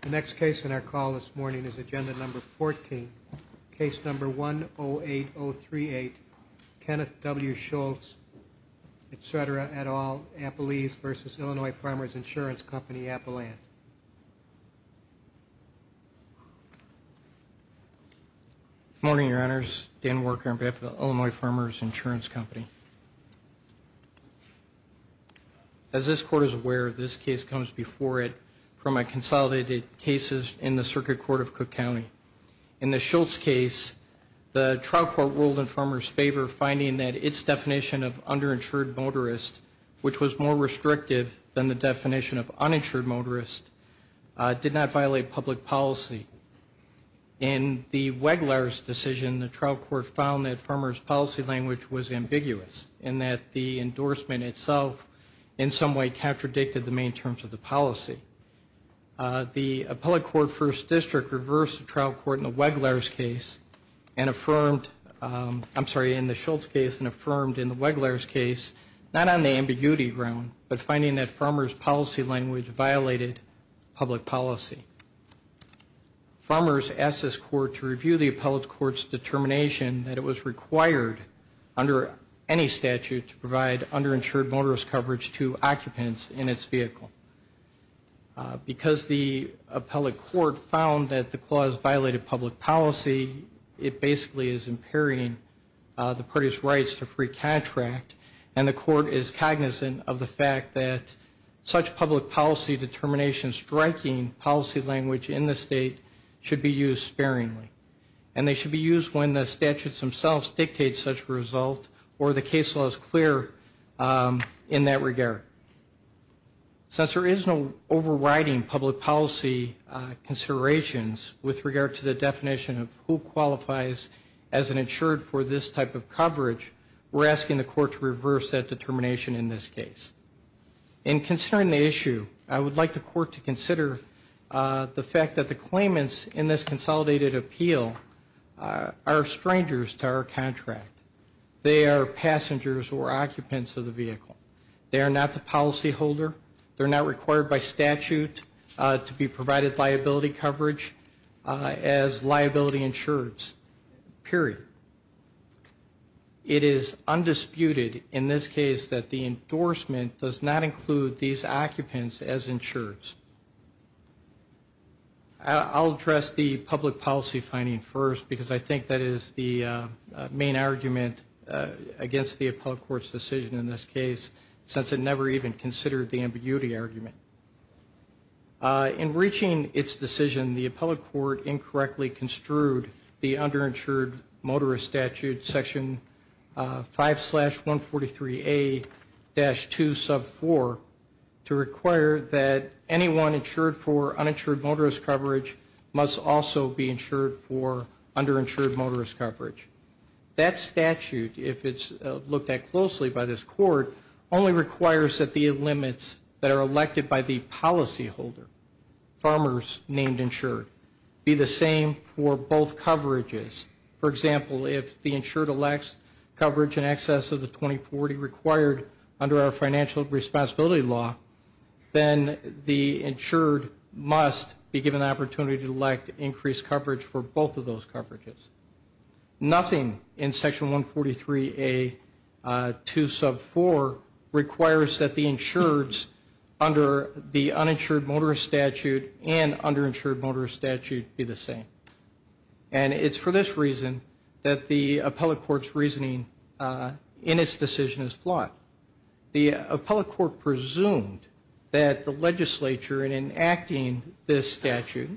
The next case in our call this morning is Agenda No. 14, Case No. 108-038, Kenneth W. Schultz, etc., et al., Appalese v. Illinois Farmers Insurance Company, Appaland. Good morning, Your Honors. Dan Worker on behalf of the Illinois Farmers Insurance Company. As this Court is aware, this case comes before it from a consolidated case in the Circuit Court of Cook County. In the Schultz case, the trial court ruled in farmers' favor, finding that its definition of underinsured motorist, which was more restrictive than the definition of uninsured motorist, did not violate public policy. In the Weglar's decision, the trial court found that farmers' policy language was ambiguous and that the endorsement itself in some way contradicted the main terms of the policy. The Appellate Court First District reversed the trial court in the Weglar's case and affirmed, I'm sorry, in the Schultz case and affirmed in the Weglar's case, not on the ambiguity ground, but finding that farmers' policy language violated public policy. Farmers asked this Court to review the Appellate Court's determination that it was required under any statute to provide underinsured motorist coverage to occupants in its vehicle. Because the Appellate Court found that the clause violated public policy, it basically is impairing the parties' rights to free contract, and the Court is cognizant of the fact that such public policy determination striking policy language in the state should be used sparingly, and they should be used when the statutes themselves dictate such a result or the case law is clear in that regard. Since there is no overriding public policy considerations with regard to the definition of who qualifies as an insured for this type of coverage, we're asking the Court to reverse that determination in this case. In considering the issue, I would like the Court to consider the fact that the claimants in this consolidated appeal are strangers to our contract. They are passengers or occupants of the vehicle. They are not the policyholder. They're not required by statute to be provided liability coverage as liability insureds, period. It is undisputed in this case that the endorsement does not include these occupants as insureds. I'll address the public policy finding first because I think that is the main argument against the Appellate Court's decision in this case since it never even considered the ambiguity argument. In reaching its decision, the Appellate Court incorrectly construed the underinsured motorist statute, section 5-143A-2 sub 4, to require that anyone insured for uninsured motorist coverage must also be insured for underinsured motorist coverage. That statute, if it's looked at closely by this Court, only requires that the limits that are elected by the policyholder, farmers named insured, be the same for both coverages. For example, if the insured elects coverage in excess of the 2040 required under our financial responsibility law, then the insured must be given the opportunity to elect increased coverage for both of those coverages. Nothing in section 143A-2 sub 4 requires that the insureds under the uninsured motorist statute and underinsured motorist statute be the same. And it's for this reason that the Appellate Court's reasoning in its decision is flawed. The Appellate Court presumed that the legislature, in enacting this statute,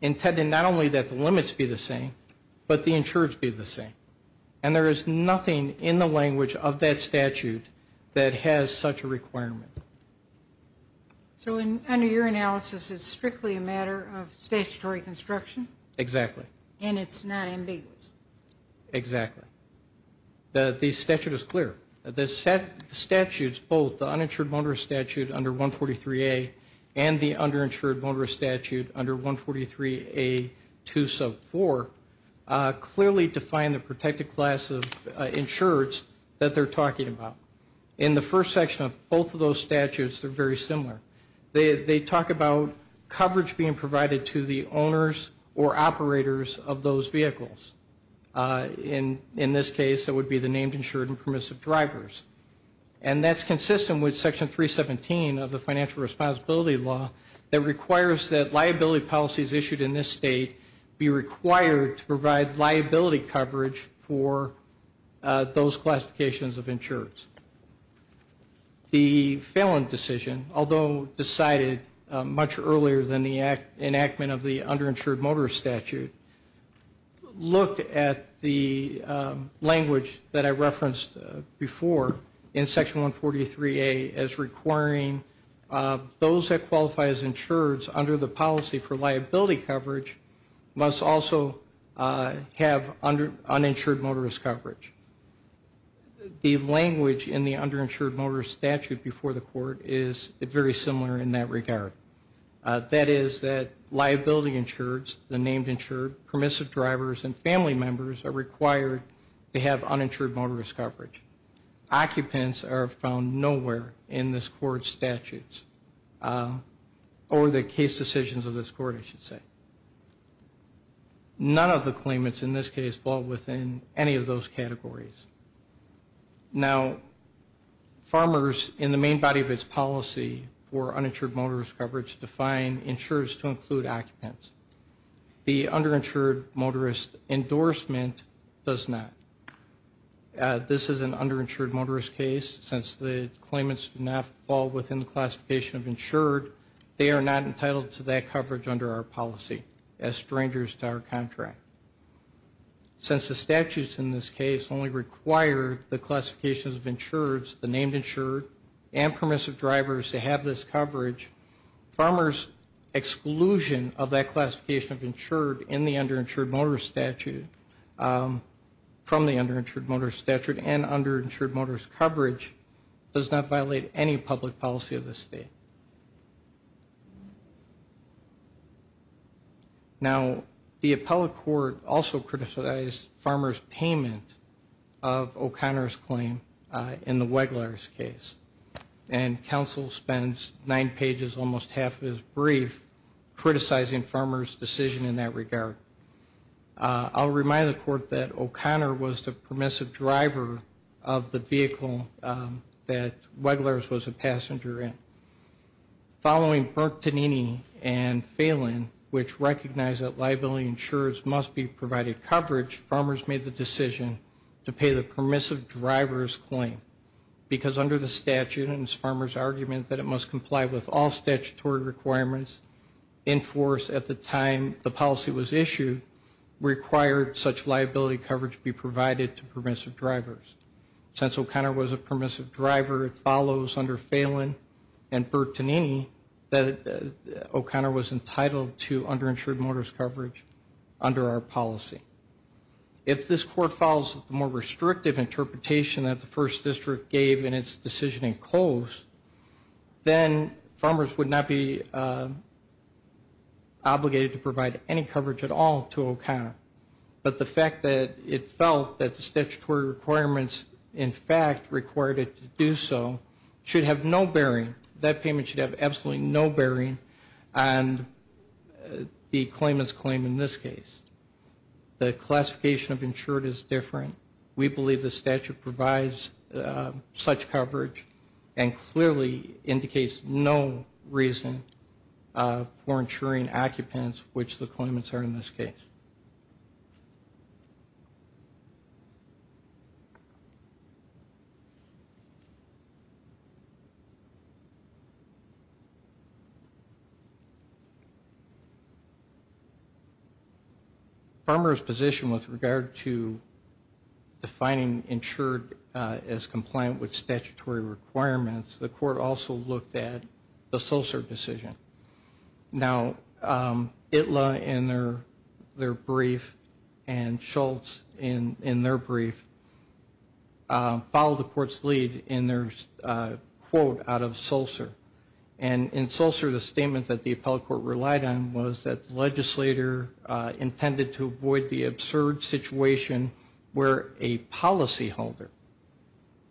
intended not only that the limits be the same, but the insureds be the same. And there is nothing in the language of that statute that has such a requirement. So under your analysis, it's strictly a matter of statutory construction? Exactly. And it's not ambiguous? Exactly. The statute is clear. The statutes, both the uninsured motorist statute under 143A and the underinsured motorist statute under 143A-2 sub 4, clearly define the protected class of insureds that they're talking about. In the first section of both of those statutes, they're very similar. They talk about coverage being provided to the owners or operators of those vehicles. In this case, it would be the named insured and permissive drivers. And that's consistent with Section 317 of the financial responsibility law that requires that liability policies issued in this state be required to provide liability coverage for those classifications of insureds. The Phelan decision, although decided much earlier than the enactment of the underinsured motorist statute, looked at the language that I referenced before in Section 143A as requiring those that qualify as insureds under the policy for liability coverage must also have uninsured motorist coverage. The language in the underinsured motorist statute before the court is very similar in that regard. That is that liability insureds, the named insured, permissive drivers, and family members are required to have uninsured motorist coverage. Occupants are found nowhere in this court's statutes or the case decisions of this court, I should say. None of the claimants in this case fall within any of those categories. Now, farmers, in the main body of its policy for uninsured motorist coverage, define insurers to include occupants. The underinsured motorist endorsement does not. This is an underinsured motorist case. Since the claimants do not fall within the classification of insured, they are not entitled to that coverage under our policy as strangers to our contract. Since the statutes in this case only require the classifications of insureds, the named insured, and permissive drivers to have this coverage, farmers' exclusion of that classification of insured from the underinsured motorist statute and underinsured motorist coverage does not violate any public policy of this state. Now, the appellate court also criticized farmers' payment of O'Connor's claim in the Weglar's case, and counsel spends nine pages, almost half of it is brief, criticizing farmers' decision in that regard. I'll remind the court that O'Connor was the permissive driver of the vehicle that Weglar's was a passenger in. Following Bertonini and Phelan, which recognize that liability insurers must be provided coverage, farmers made the decision to pay the permissive driver's claim, because under the statute, and it's farmers' argument that it must comply with all statutory requirements enforced at the time the policy was issued, required such liability coverage be provided to permissive drivers. Since O'Connor was a permissive driver, it follows under Phelan and Bertonini that O'Connor was entitled to underinsured motorist coverage under our policy. If this court follows the more restrictive interpretation that the First District gave in its decision in Coase, then farmers would not be obligated to provide any coverage at all to O'Connor. But the fact that it felt that the statutory requirements in fact required it to do so should have no bearing, that payment should have absolutely no bearing on the claimant's claim in this case. The classification of insured is different. We believe the statute provides such coverage and clearly indicates no reason for insuring occupants, which the claimants are in this case. Farmers' position with regard to defining insured as compliant with statutory requirements, the court also looked at the Solcer decision. Now, Itla in their brief and Schultz in their brief followed the court's lead in their quote out of Solcer. And in Solcer the statement that the appellate court relied on was that the legislator intended to avoid the absurd situation where a policyholder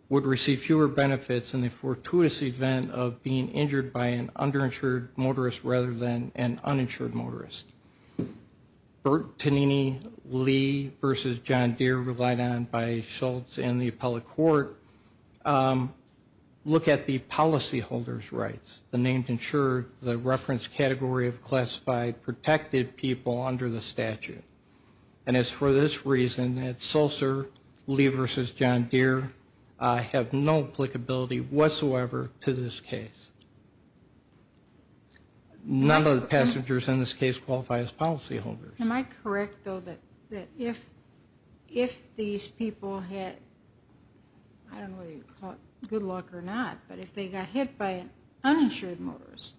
would receive fewer benefits in the fortuitous event of being injured by an underinsured motorist rather than an uninsured motorist. Bert Tannini, Lee v. John Deere relied on by Schultz and the appellate court look at the policyholder's rights. The name insured, the reference category of classified protected people under the statute. And it's for this reason that Solcer, Lee v. John Deere have no applicability whatsoever to this case. None of the passengers in this case qualify as policyholders. Am I correct, though, that if these people had, I don't know whether you'd call it good luck or not, but if they got hit by an uninsured motorist,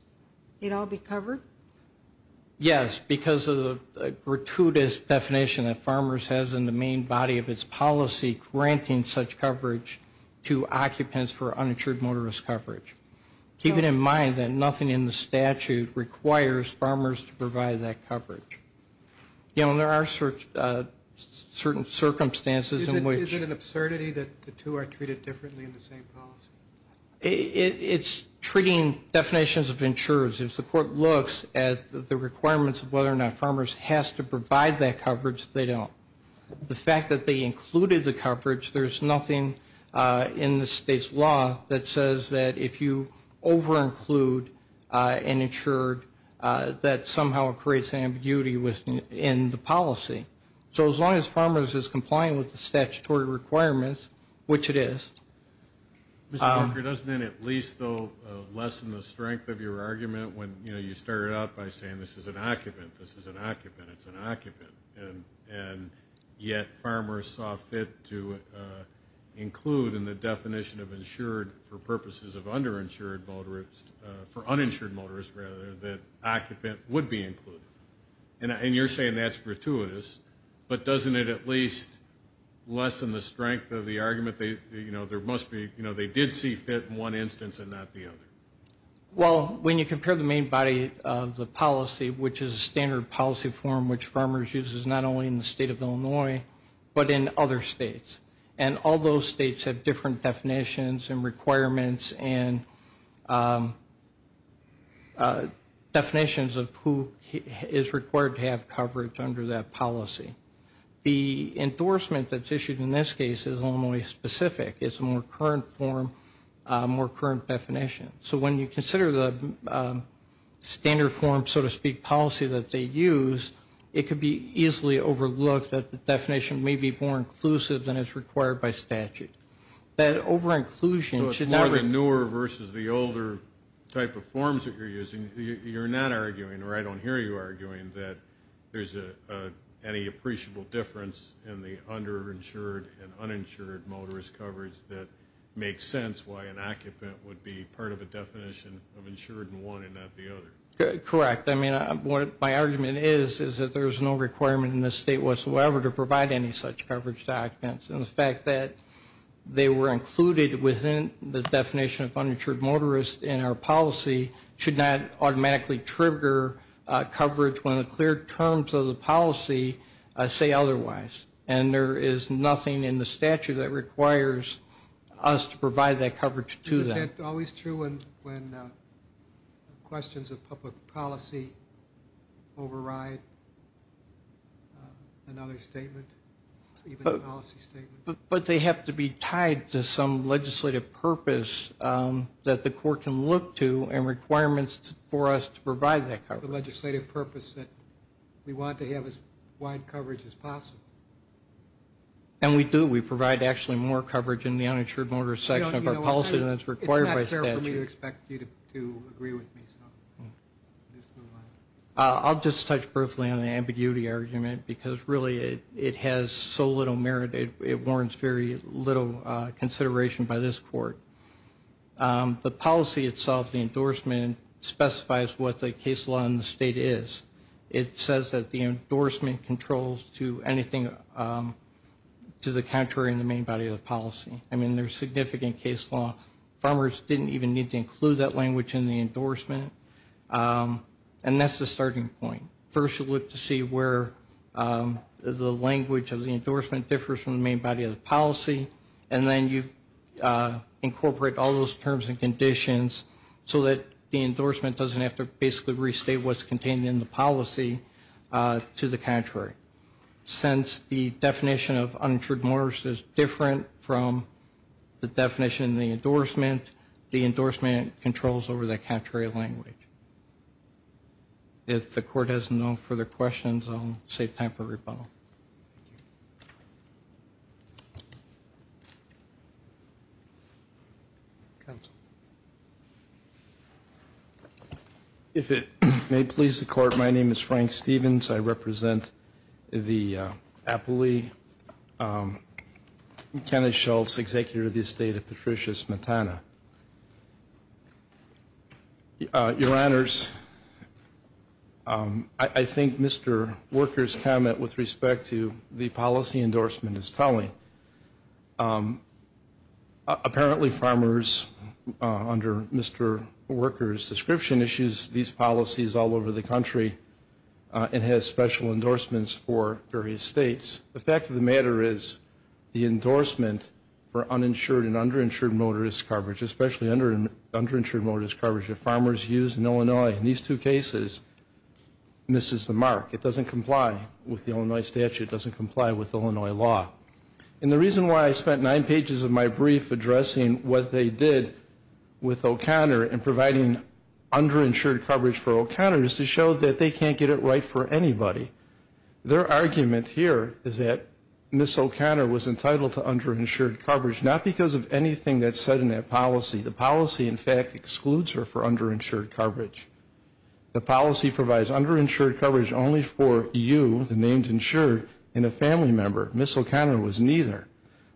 they'd all be covered? Yes, because of the gratuitous definition that Farmers has in the main body of its policy granting such coverage to occupants for uninsured motorist coverage. Keeping in mind that nothing in the statute requires Farmers to provide that coverage. You know, there are certain circumstances in which Is it an absurdity that the two are treated differently in the same policy? It's treating definitions of insurers. If the court looks at the requirements of whether or not Farmers has to provide that coverage, they don't. The fact that they included the coverage, there's nothing in the state's law that says that if you over-include an insured, that somehow it creates ambiguity within the policy. So as long as Farmers is complying with the statutory requirements, which it is. Mr. Parker, doesn't that at least, though, lessen the strength of your argument when, you know, you started out by saying this is an occupant, this is an occupant, it's an occupant, and yet Farmers saw fit to include in the definition of insured for purposes of underinsured motorists, for uninsured motorists, rather, that occupant would be included. And you're saying that's gratuitous, but doesn't it at least lessen the strength of the argument, you know, there must be, you know, they did see fit in one instance and not the other. Well, when you compare the main body of the policy, which is a standard policy form which Farmers uses not only in the state of Illinois, but in other states. And all those states have different definitions and requirements and definitions of who is required to have coverage under that policy. The endorsement that's issued in this case is Illinois specific. It's a more current form, more current definition. So when you consider the standard form, so to speak, policy that they use, it could be easily overlooked that the definition may be more inclusive than is required by statute. That overinclusion should not be. So it's more the newer versus the older type of forms that you're using. You're not arguing, or I don't hear you arguing, that there's any appreciable difference in the underinsured and uninsured motorist coverage that makes sense why an occupant would be part of a definition of insured in one and not the other. Correct. I mean, what my argument is is that there's no requirement in this state whatsoever to provide any such coverage documents. And the fact that they were included within the definition of uninsured motorist in our policy should not automatically trigger coverage when the clear terms of the policy say otherwise. And there is nothing in the statute that requires us to provide that coverage to them. Isn't that always true when questions of public policy override another statement, even a policy statement? But they have to be tied to some legislative purpose that the court can look to and requirements for us to provide that coverage. The legislative purpose that we want to have as wide coverage as possible. And we do. We provide actually more coverage in the uninsured motorist section of our policy than is required by statute. It's not fair for me to expect you to agree with me. I'll just touch briefly on the ambiguity argument because really it has so little merit. It warrants very little consideration by this court. The policy itself, the endorsement, specifies what the case law in the state is. It says that the endorsement controls to anything to the contrary in the main body of the policy. I mean, there's significant case law. Farmers didn't even need to include that language in the endorsement. And that's the starting point. First you look to see where the language of the endorsement differs from the main body of the policy. And then you incorporate all those terms and conditions so that the endorsement doesn't have to basically restate what's contained in the policy to the contrary. Since the definition of uninsured motorist is different from the definition in the endorsement, the endorsement controls over the contrary language. If the court has no further questions, I'll save time for rebuttal. Thank you. Counsel. If it may please the court, my name is Frank Stevens. I represent the aptly Kenneth Schultz, executive of the estate of Patricia Smetana. Your Honors, I think Mr. Worker's comment with respect to the policy endorsement is telling. Apparently farmers, under Mr. Worker's description, issues these policies all over the country and has special endorsements for various states. The fact of the matter is the endorsement for uninsured and underinsured motorist coverage, especially underinsured motorist coverage that farmers use in Illinois, in these two cases, misses the mark. It doesn't comply with the Illinois statute. It doesn't comply with Illinois law. And the reason why I spent nine pages of my brief addressing what they did with O'Connor and providing underinsured coverage for O'Connor is to show that they can't get it right for anybody. Their argument here is that Ms. O'Connor was entitled to underinsured coverage, not because of anything that's said in that policy. The policy, in fact, excludes her for underinsured coverage. The policy provides underinsured coverage only for you, the named insured, and a family member. Ms. O'Connor was neither.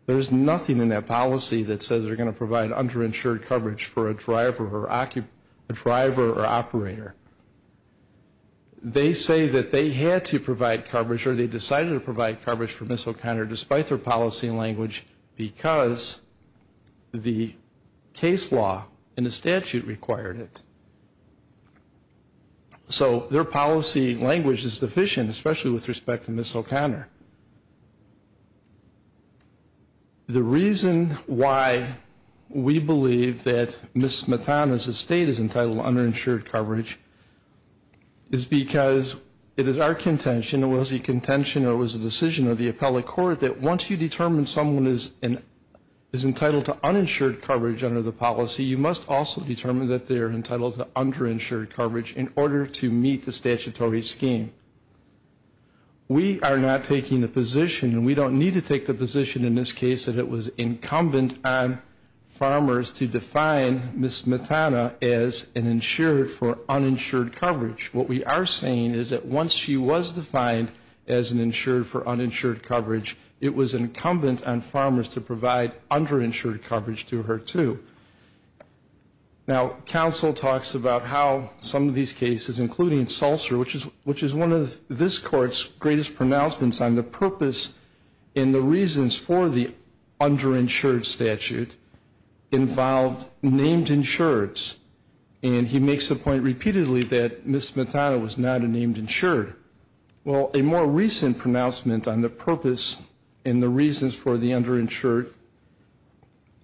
There's nothing in that policy that says they're going to provide underinsured coverage for a driver or operator. They say that they had to provide coverage or they decided to provide coverage for Ms. O'Connor despite their policy language because the case law and the statute required it. So their policy language is deficient, especially with respect to Ms. O'Connor. The reason why we believe that Ms. Smetana's estate is entitled to underinsured coverage is because it is our contention, it was a contention or it was a decision of the appellate court, that once you determine someone is entitled to uninsured coverage under the policy, you must also determine that they are entitled to underinsured coverage in order to meet the statutory scheme. We are not taking the position, and we don't need to take the position in this case, that it was incumbent on farmers to define Ms. Smetana as an insured for uninsured coverage. What we are saying is that once she was defined as an insured for uninsured coverage, it was incumbent on farmers to provide underinsured coverage to her too. Now, counsel talks about how some of these cases, including Sulzer, which is one of this court's greatest pronouncements on the purpose and the reasons for the underinsured statute, involved named insureds. And he makes the point repeatedly that Ms. Smetana was not a named insured. Well, a more recent pronouncement on the purpose and the reasons for the underinsured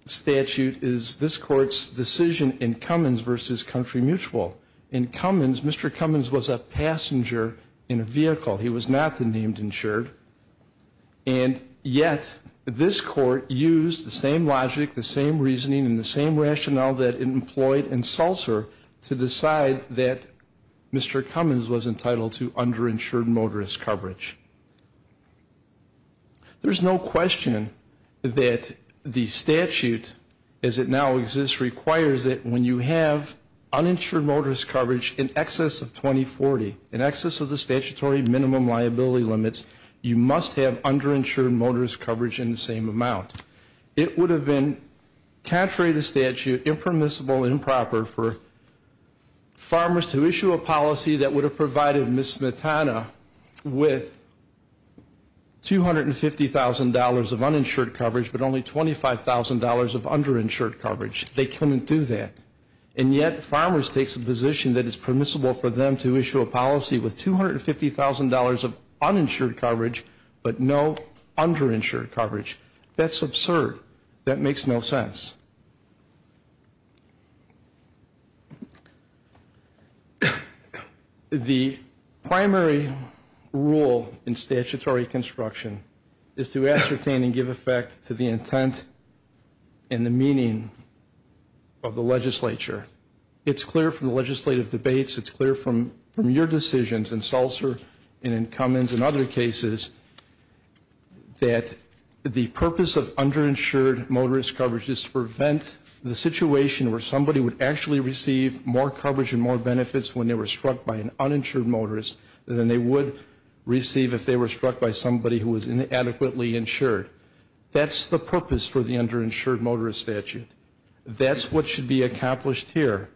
statute is this court's decision in Cummins v. Country Mutual. In Cummins, Mr. Cummins was a passenger in a vehicle. He was not the named insured. And yet, this court used the same logic, the same reasoning, and the same rationale that it employed in Sulzer to decide that Mr. Cummins was entitled to underinsured motorist coverage. There's no question that the statute, as it now exists, requires that when you have uninsured motorist coverage in excess of 2040, in excess of the statutory minimum liability limits, you must have underinsured motorist coverage in the same amount. It would have been contrary to statute, impermissible, improper, for farmers to issue a policy that would have provided Ms. Smetana with $250,000 of uninsured coverage but only $25,000 of underinsured coverage. They couldn't do that. And yet, farmers take the position that it's permissible for them to issue a policy with $250,000 of uninsured coverage but no underinsured coverage. That's absurd. That makes no sense. The primary rule in statutory construction is to ascertain and give effect to the intent and the meaning of the legislature. It's clear from the legislative debates, it's clear from your decisions in Sulzer and in Cummins and other cases that the purpose of underinsured motorist coverage is to prevent the situation where somebody would actually receive more coverage and more benefits when they were struck by an uninsured motorist than they would receive if they were struck by somebody who was inadequately insured. That's the purpose for the underinsured motorist statute. That's what should be accomplished here.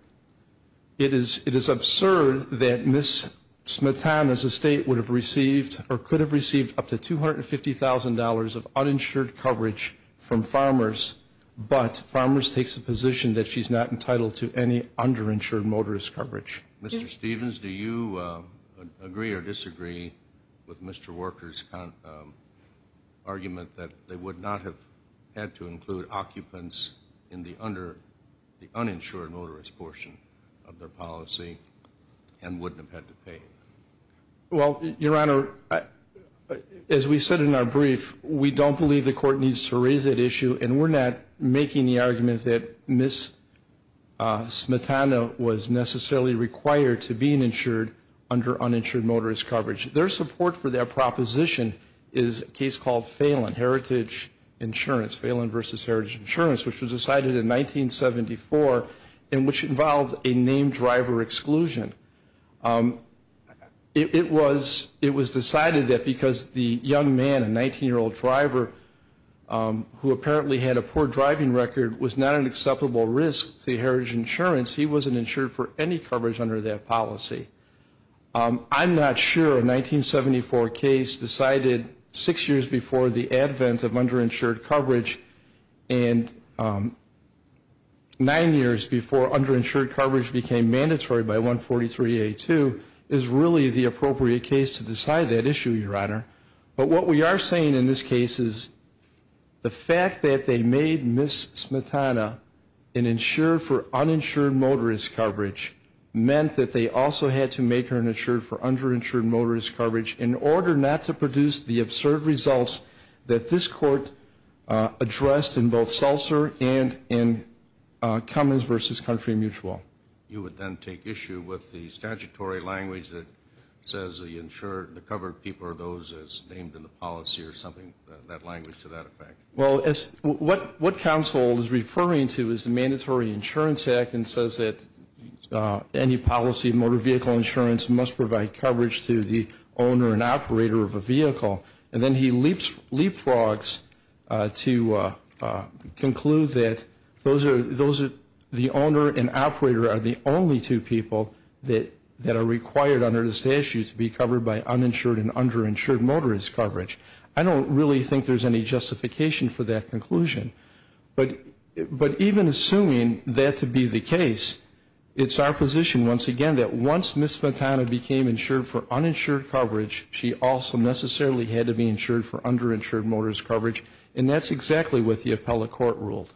It is absurd that Ms. Smetana's estate would have received or could have received up to $250,000 of uninsured coverage from farmers, but farmers take the position that she's not entitled to any underinsured motorist coverage. Mr. Stevens, do you agree or disagree with Mr. Walker's argument that they would not have had to include occupants in the uninsured motorist portion of their policy and wouldn't have had to pay? Well, Your Honor, as we said in our brief, we don't believe the court needs to raise that issue and we're not making the argument that Ms. Smetana was necessarily required to be insured under uninsured motorist coverage. Their support for their proposition is a case called Phelan, Heritage Insurance, Phelan versus Heritage Insurance, which was decided in 1974 and which involved a named driver exclusion. It was decided that because the young man, a 19-year-old driver, who apparently had a poor driving record was not an acceptable risk to Heritage Insurance, he wasn't insured for any coverage under that policy. I'm not sure a 1974 case decided six years before the advent of underinsured coverage and nine years before underinsured coverage became mandatory by 143A2 is really the appropriate case to decide that issue, Your Honor. But what we are saying in this case is the fact that they made Ms. Smetana an insurer for uninsured motorist coverage meant that they also had to make her an insurer for underinsured motorist coverage in order not to produce the absurd results that this court addressed in both Seltzer and in Cummins versus Country Mutual. You would then take issue with the statutory language that says the insured, the covered people are those as named in the policy or something, that language to that effect. Well, what counsel is referring to is the Mandatory Insurance Act and says that any policy of motor vehicle insurance must provide coverage to the owner and operator of a vehicle. And then he leapfrogs to conclude that the owner and operator are the only two people that are required under the statute to be covered by uninsured and underinsured motorist coverage. I don't really think there's any justification for that conclusion. But even assuming that to be the case, it's our position once again that once Ms. Smetana became insured for uninsured coverage, she also necessarily had to be insured for underinsured motorist coverage. And that's exactly what the appellate court ruled.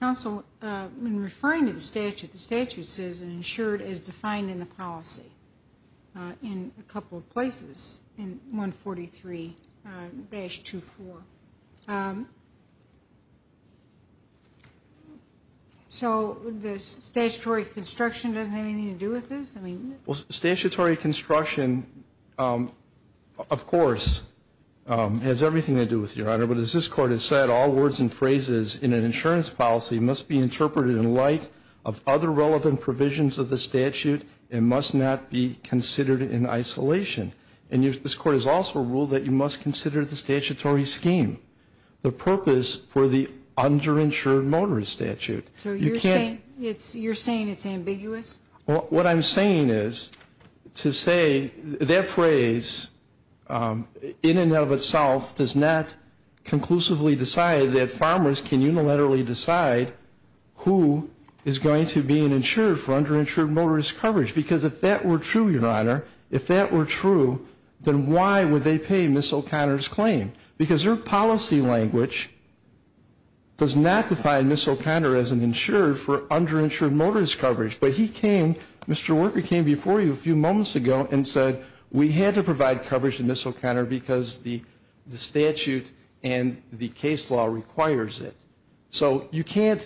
Counsel, in referring to the statute, the statute says insured is defined in the policy in a couple of places in 143-24. So the statutory construction doesn't have anything to do with this? Well, statutory construction, of course, has everything to do with it, Your Honor. But as this Court has said, all words and phrases in an insurance policy must be interpreted in light of other relevant provisions of the statute and must not be considered in isolation. And this Court has also ruled that you must consider the statutory scheme, the purpose for the underinsured motorist statute. So you're saying it's ambiguous? What I'm saying is to say that phrase in and of itself does not conclusively decide that farmers can unilaterally decide who is going to be an insured for underinsured motorist coverage. Because if that were true, Your Honor, if that were true, then why would they pay Ms. O'Connor's claim? Because her policy language does not define Ms. O'Connor as an insured for underinsured motorist coverage. But he came, Mr. Worker came before you a few moments ago and said, we had to provide coverage to Ms. O'Connor because the statute and the case law requires it. So you can't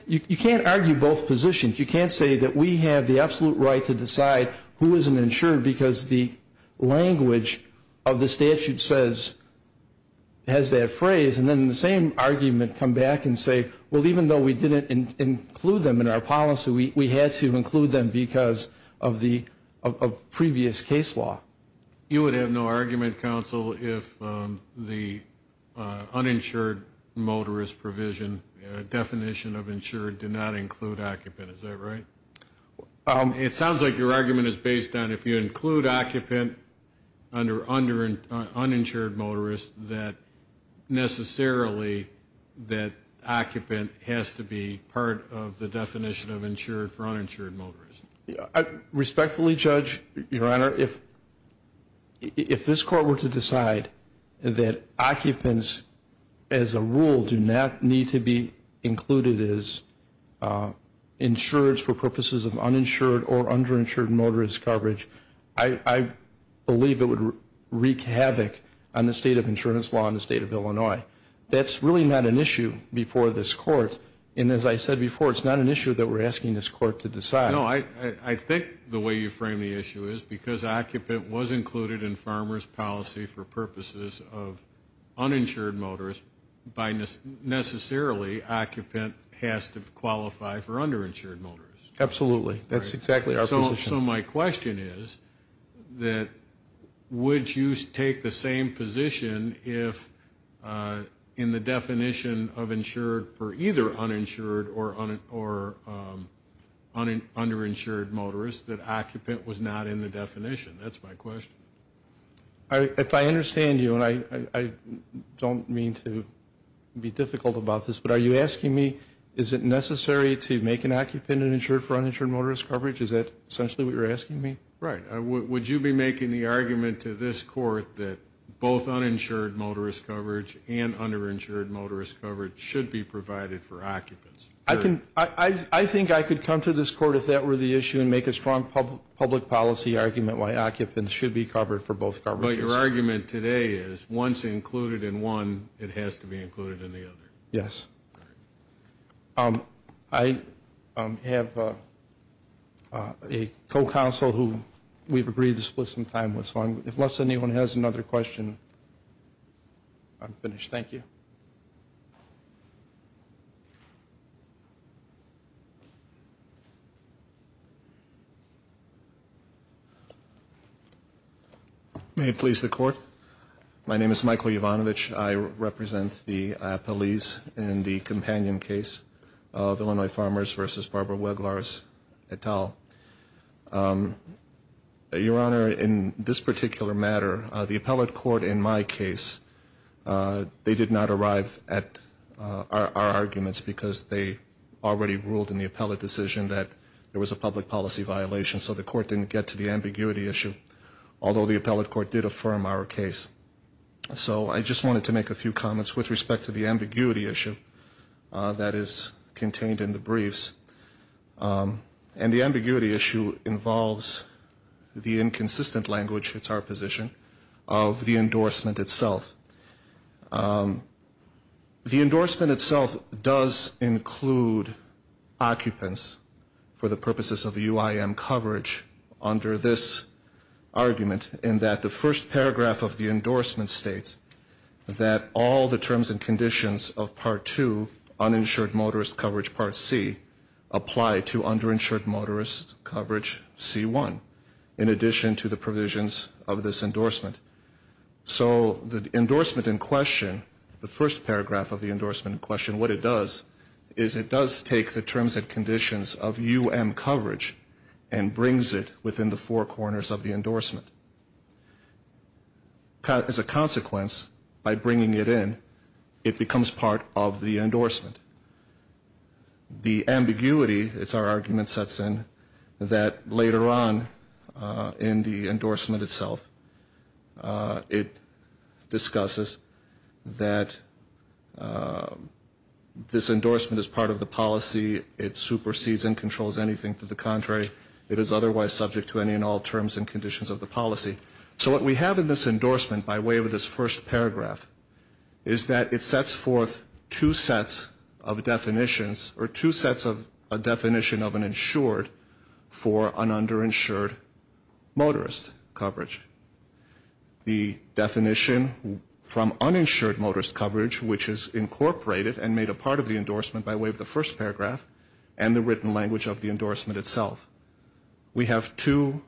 argue both positions. You can't say that we have the absolute right to decide who is an insured because the language of the statute says, has that phrase. And then the same argument come back and say, well, even though we didn't include them in our policy, we had to include them because of previous case law. You would have no argument, counsel, if the uninsured motorist provision definition of insured did not include occupant. Is that right? It sounds like your argument is based on if you include occupant under uninsured motorist that necessarily that occupant has to be part of the definition of insured for uninsured motorist. Respectfully, Judge, Your Honor, if this court were to decide that occupants as a rule do not need to be included as insureds for purposes of uninsured or underinsured motorist coverage, I believe it would wreak havoc on the state of insurance law in the state of Illinois. That's really not an issue before this court. And as I said before, it's not an issue that we're asking this court to decide. No, I think the way you frame the issue is because occupant was included in farmer's policy for purposes of uninsured motorist by necessarily occupant has to qualify for underinsured motorist. Absolutely. That's exactly our position. So my question is that would you take the same position if in the definition of insured for either uninsured or underinsured motorist that occupant was not in the definition? That's my question. If I understand you, and I don't mean to be difficult about this, but are you asking me is it necessary to make an occupant an insured for uninsured motorist coverage? Is that essentially what you're asking me? Right. Would you be making the argument to this court that both uninsured motorist coverage and underinsured motorist coverage should be provided for occupants? I think I could come to this court if that were the issue and make a strong public policy argument why occupants should be covered for both coverages. But your argument today is once included in one, it has to be included in the other. Yes. I have a co-counsel who we've agreed to split some time with, so unless anyone has another question, I'm finished. Thank you. May it please the Court. My name is Michael Yovanovitch. I represent the police in the companion case of Illinois Farmers v. Barbara Weglars et al. Your Honor, in this particular matter, the appellate court in my case, they did not arrive at our arguments because they already ruled in the appellate decision that there was a public policy violation, so the court didn't get to the ambiguity issue, although the appellate court did affirm our case. So I just wanted to make a few comments with respect to the ambiguity issue that is contained in the briefs. And the ambiguity issue involves the inconsistent language, it's our position, of the endorsement itself. The endorsement itself does include occupants for the purposes of UIM coverage under this argument in that the first paragraph of the endorsement states that all the terms and conditions of Part 2, uninsured motorist coverage Part C, apply to underinsured motorist coverage C1, in addition to the provisions of this endorsement. So the endorsement in question, the first paragraph of the endorsement in question, what it does is it does take the terms and conditions of UIM coverage and brings it within the four corners of the endorsement. As a consequence, by bringing it in, it becomes part of the endorsement. The ambiguity, it's our argument, sets in that later on in the endorsement itself, it discusses that this endorsement is part of the policy. It supersedes and controls anything to the contrary. It is otherwise subject to any and all terms and conditions of the policy. So what we have in this endorsement by way of this first paragraph is that it sets forth two sets of definitions or two sets of a definition of an insured for an underinsured motorist coverage. The definition from uninsured motorist coverage, which is incorporated and made a part of the endorsement by way of the first paragraph, and the written language of the endorsement itself. We have two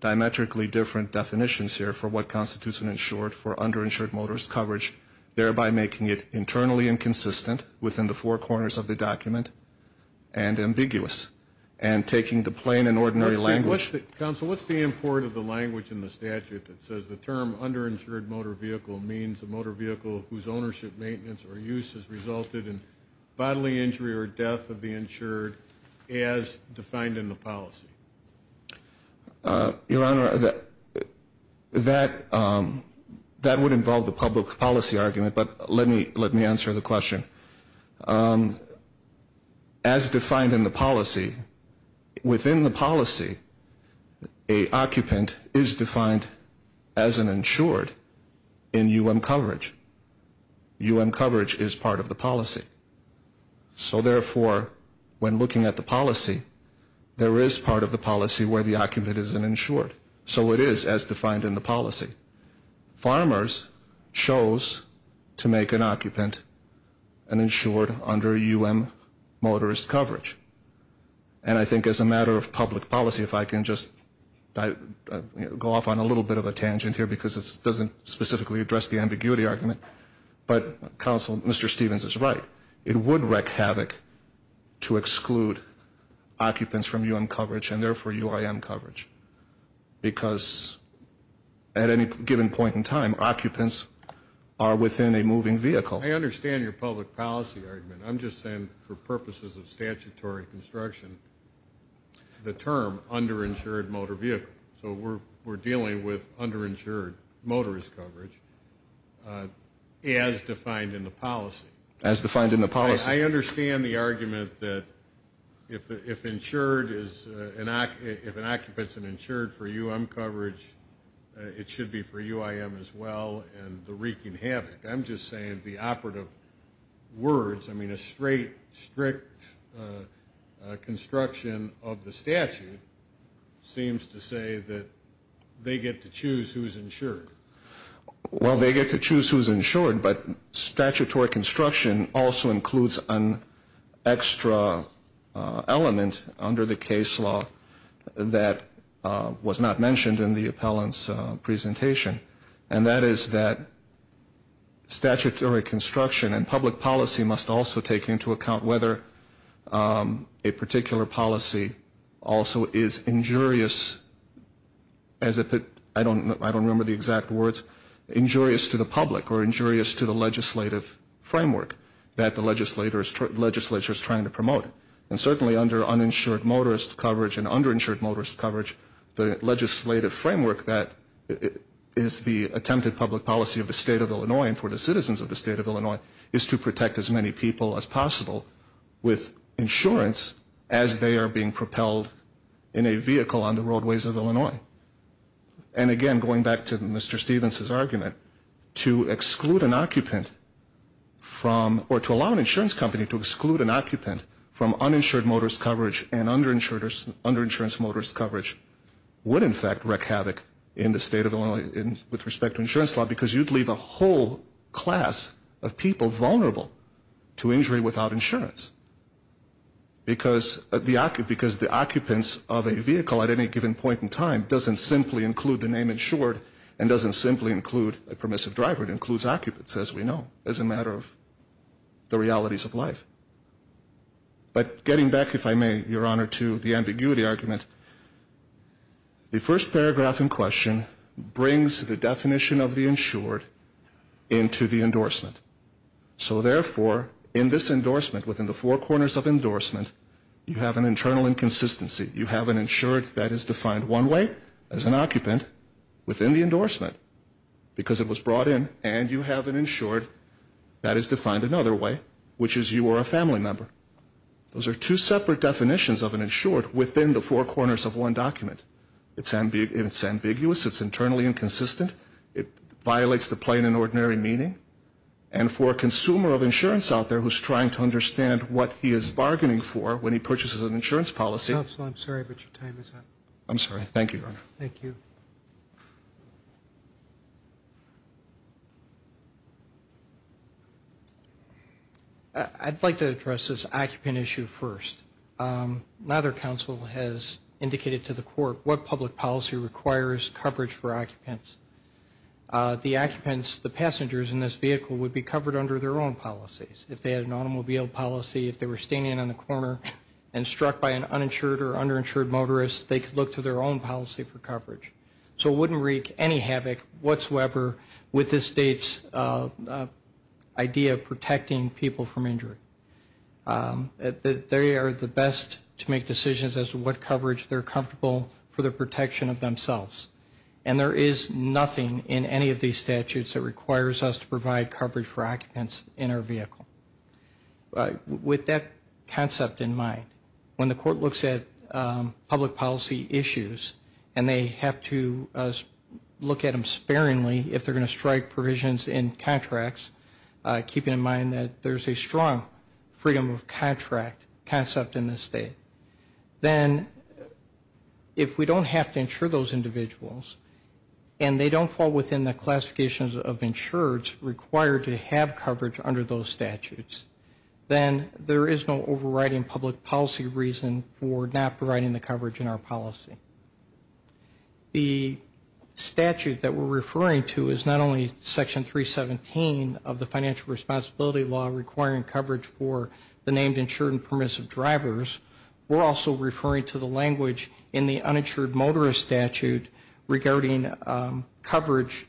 diametrically different definitions here for what constitutes an insured for underinsured motorist coverage, thereby making it internally inconsistent within the four corners of the document and ambiguous, and taking the plain and ordinary language. Counsel, what's the import of the language in the statute that says the term underinsured motor vehicle means a motor vehicle whose ownership, maintenance, or use has resulted in bodily injury or death of the insured as defined in the policy? Your Honor, that would involve the public policy argument, but let me answer the question. As defined in the policy, within the policy, a occupant is defined as an insured in U.M. coverage. U.M. coverage is part of the policy. So therefore, when looking at the policy, there is part of the policy where the occupant is an insured. So it is as defined in the policy. Farmers chose to make an occupant an insured under U.M. motorist coverage. And I think as a matter of public policy, if I can just go off on a little bit of a tangent here because it doesn't specifically address the ambiguity argument, but Counsel, Mr. Stevens is right. It would wreak havoc to exclude occupants from U.M. coverage and therefore UIM coverage because at any given point in time, occupants are within a moving vehicle. I understand your public policy argument. I'm just saying for purposes of statutory construction, the term underinsured motor vehicle. So we're dealing with underinsured motorist coverage as defined in the policy. As defined in the policy. I understand the argument that if an occupant is an insured for U.M. coverage, it should be for UIM as well and the wreaking havoc. I'm just saying the operative words. I mean a straight, strict construction of the statute seems to say that they get to choose who's insured. Well, they get to choose who's insured, but statutory construction also includes an extra element under the case law that was not mentioned in the appellant's presentation. And that is that statutory construction and public policy must also take into account whether a particular policy also is injurious, I don't remember the exact words, injurious to the public or injurious to the legislative framework that the legislature is trying to promote. And certainly under uninsured motorist coverage and underinsured motorist coverage, the legislative framework that is the attempted public policy of the state of Illinois and for the citizens of the state of Illinois is to protect as many people as possible with insurance as they are being propelled in a vehicle on the roadways of Illinois. And again, going back to Mr. Stevens' argument, to exclude an occupant from or to allow an insurance company to exclude an occupant from uninsured motorist coverage and underinsured motorist coverage would in fact wreak havoc in the state of Illinois with respect to insurance law because you'd leave a whole class of people vulnerable to injury without insurance because the occupants of a vehicle at any given point in time doesn't simply include the name insured and doesn't simply include a permissive driver. It includes occupants, as we know, as a matter of the realities of life. But getting back, if I may, Your Honor, to the ambiguity argument, the first paragraph in question brings the definition of the insured into the endorsement. So therefore, in this endorsement, within the four corners of endorsement, you have an internal inconsistency. You have an insured that is defined one way as an occupant within the endorsement because it was brought in, and you have an insured that is defined another way, which is you are a family member. Those are two separate definitions of an insured within the four corners of one document. It's ambiguous. It's internally inconsistent. It violates the plain and ordinary meaning. And for a consumer of insurance out there who's trying to understand what he is bargaining for when he purchases an insurance policy. Counsel, I'm sorry, but your time is up. I'm sorry. Thank you, Your Honor. Thank you. I'd like to address this occupant issue first. Neither counsel has indicated to the court what public policy requires coverage for occupants. The occupants, the passengers in this vehicle, would be covered under their own policies. If they had an automobile policy, if they were standing in the corner and struck by an uninsured or underinsured motorist, they could look to their own policy for coverage. So it wouldn't wreak any havoc whatsoever with the state's idea of protecting people from injury. They are the best to make decisions as to what coverage they're comfortable for the protection of themselves. And there is nothing in any of these statutes that requires us to provide coverage for occupants in our vehicle. With that concept in mind, when the court looks at public policy issues and they have to look at them sparingly if they're going to strike provisions in contracts, keeping in mind that there's a strong freedom of contract concept in this state, then if we don't have to insure those individuals and they don't fall within the classifications of insureds required to have coverage under those statutes, then there is no overriding public policy reason for not providing the coverage in our policy. The statute that we're referring to is not only Section 317 of the Financial Responsibility Law requiring coverage for the named insured and permissive drivers. We're also referring to the language in the Uninsured Motorist Statute regarding coverage,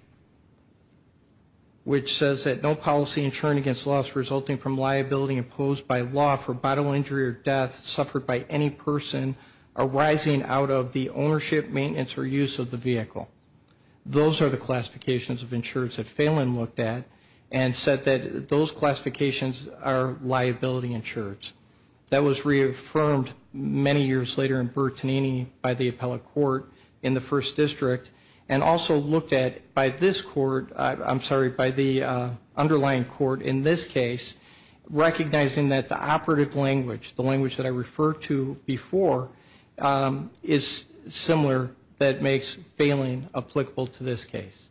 which says that no policy insured against loss resulting from liability imposed by law for bodily injury or death suffered by any person arising out of the ownership, maintenance, or use of the vehicle. Those are the classifications of insureds that Phelan looked at and said that those classifications are liability insureds. That was reaffirmed many years later in Bertanini by the appellate court in the First District and also looked at by this court, I'm sorry, by the underlying court in this case, recognizing that the operative language, the language that I referred to before, is similar that makes Phelan applicable to this case.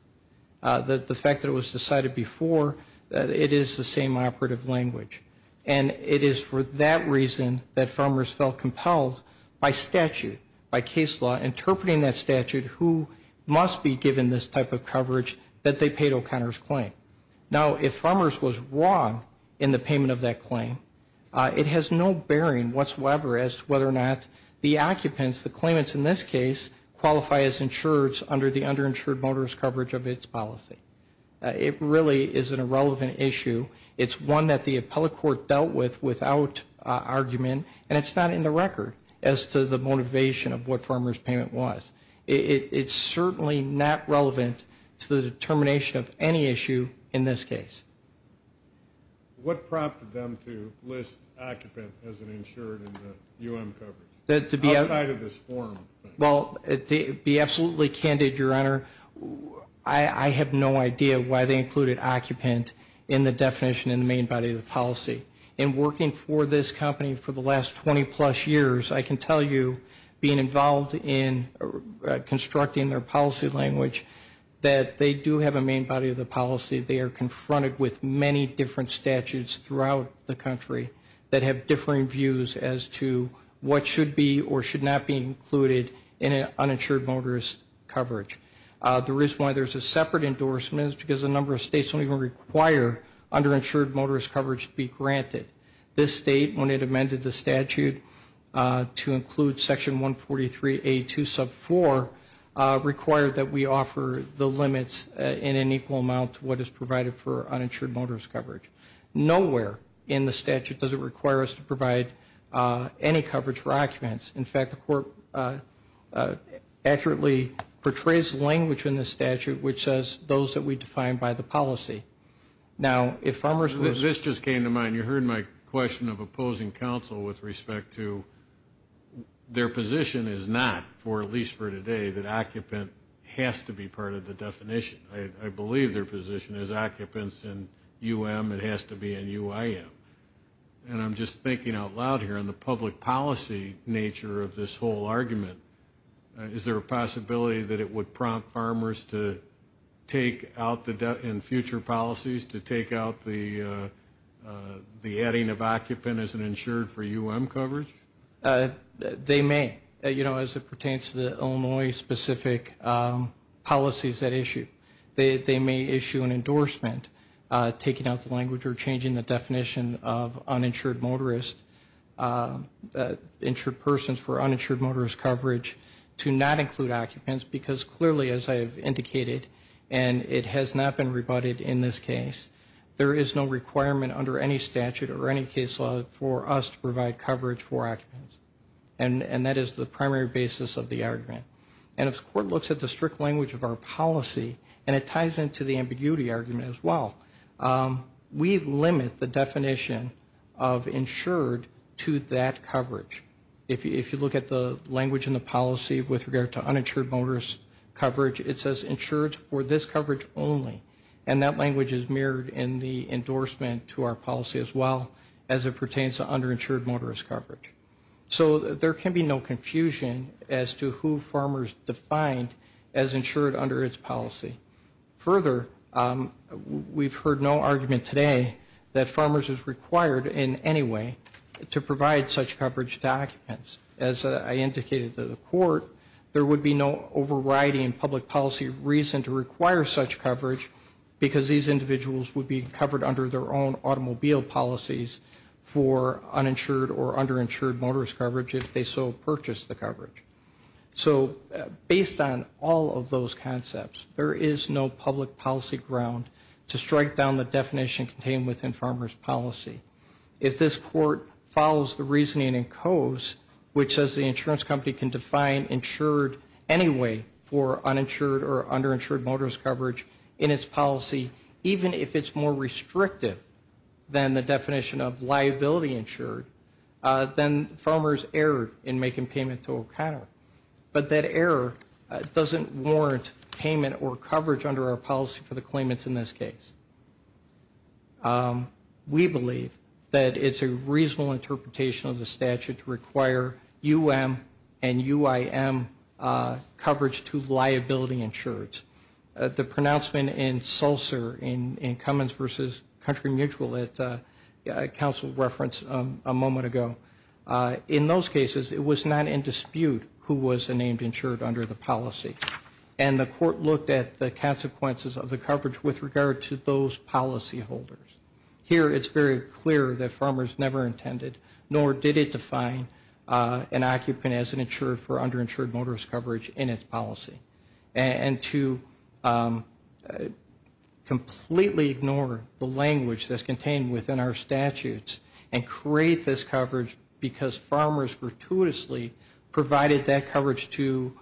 The fact that it was decided before that it is the same operative language and it is for that reason that farmers felt compelled by statute, by case law, interpreting that statute who must be given this type of coverage that they paid O'Connor's claim. Now, if farmers was wrong in the payment of that claim, it has no bearing whatsoever as to whether or not the occupants, the claimants in this case, qualify as insureds under the underinsured motorist coverage of its policy. It really is an irrelevant issue. It's one that the appellate court dealt with without argument, and it's not in the record as to the motivation of what farmers' payment was. It's certainly not relevant to the determination of any issue in this case. What prompted them to list occupant as an insured in the UM coverage? Outside of this forum. Well, to be absolutely candid, Your Honor, I have no idea why they included occupant in the definition in the main body of the policy. In working for this company for the last 20-plus years, I can tell you being involved in constructing their policy language, that they do have a main body of the policy. They are confronted with many different statutes throughout the country that have differing views as to what should be or should not be included in an uninsured motorist coverage. The reason why there's a separate endorsement is because a number of states don't even require underinsured motorist coverage to be granted. This state, when it amended the statute to include Section 143A2 sub 4, required that we offer the limits in an equal amount to what is provided for uninsured motorist coverage. Nowhere in the statute does it require us to provide any coverage for occupants. In fact, the court accurately portrays language in the statute which says those that we define by the policy. Now, if farmers were to This just came to mind. You heard my question of opposing counsel with respect to their position is not, at least for today, that occupant has to be part of the definition. I believe their position is occupants in UM, it has to be in UIM. And I'm just thinking out loud here on the public policy nature of this whole argument. Is there a possibility that it would prompt farmers to take out the debt in future policies, to take out the adding of occupant as an insured for UM coverage? They may. You know, as it pertains to the Illinois specific policies that issue, they may issue an endorsement taking out the language or changing the definition of uninsured motorist, insured persons for uninsured motorist coverage to not include occupants because clearly, as I have indicated, and it has not been rebutted in this case, there is no requirement under any statute or any case law for us to provide coverage for occupants. And that is the primary basis of the argument. And if the court looks at the strict language of our policy, and it ties into the ambiguity argument as well, we limit the definition of insured to that coverage. If you look at the language in the policy with regard to uninsured motorist coverage, it says insured for this coverage only. And that language is mirrored in the endorsement to our policy as well, as it pertains to underinsured motorist coverage. So there can be no confusion as to who farmers defined as insured under its policy. Further, we've heard no argument today that farmers is required in any way to provide such coverage to occupants. As I indicated to the court, there would be no overriding public policy reason to require such coverage because these individuals would be covered under their own automobile policies for uninsured or underinsured motorist coverage if they so purchased the coverage. So based on all of those concepts, there is no public policy ground to strike down the definition contained within farmers' policy. If this court follows the reasoning in Coase, which says the insurance company can define insured anyway for uninsured or underinsured motorist coverage in its policy, even if it's more restrictive than the definition of liability insured, then farmers err in making payment to O'Connor. But that error doesn't warrant payment or coverage under our policy for the claimants in this case. We believe that it's a reasonable interpretation of the statute to require U.M. and U.I.M. coverage to liability insureds. The pronouncement in Sulser in Cummins v. Country Mutual that counsel referenced a moment ago, in those cases it was not in dispute who was named insured under the policy. And the court looked at the consequences of the coverage with regard to those policyholders. Here it's very clear that farmers never intended, nor did it define an occupant as an insurer for underinsured motorist coverage in its policy. And to completely ignore the language that's contained within our statutes and create this coverage because farmers gratuitously provided that coverage to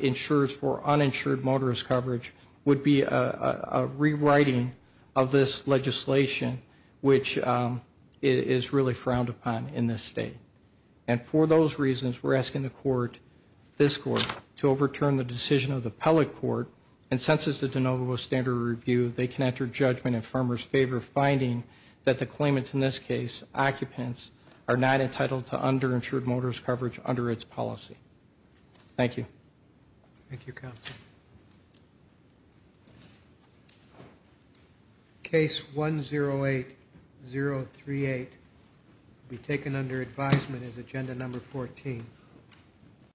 insurers for uninsured motorist coverage would be a rewriting of this legislation, which is really frowned upon in this state. And for those reasons, we're asking the court, this court, to overturn the decision of the appellate court and census the de novo standard review. They can enter judgment in farmers' favor finding that the claimants in this case, occupants, are not entitled to underinsured motorist coverage under its policy. Thank you. Thank you, counsel. Case 108038 will be taken under advisement as agenda number 14.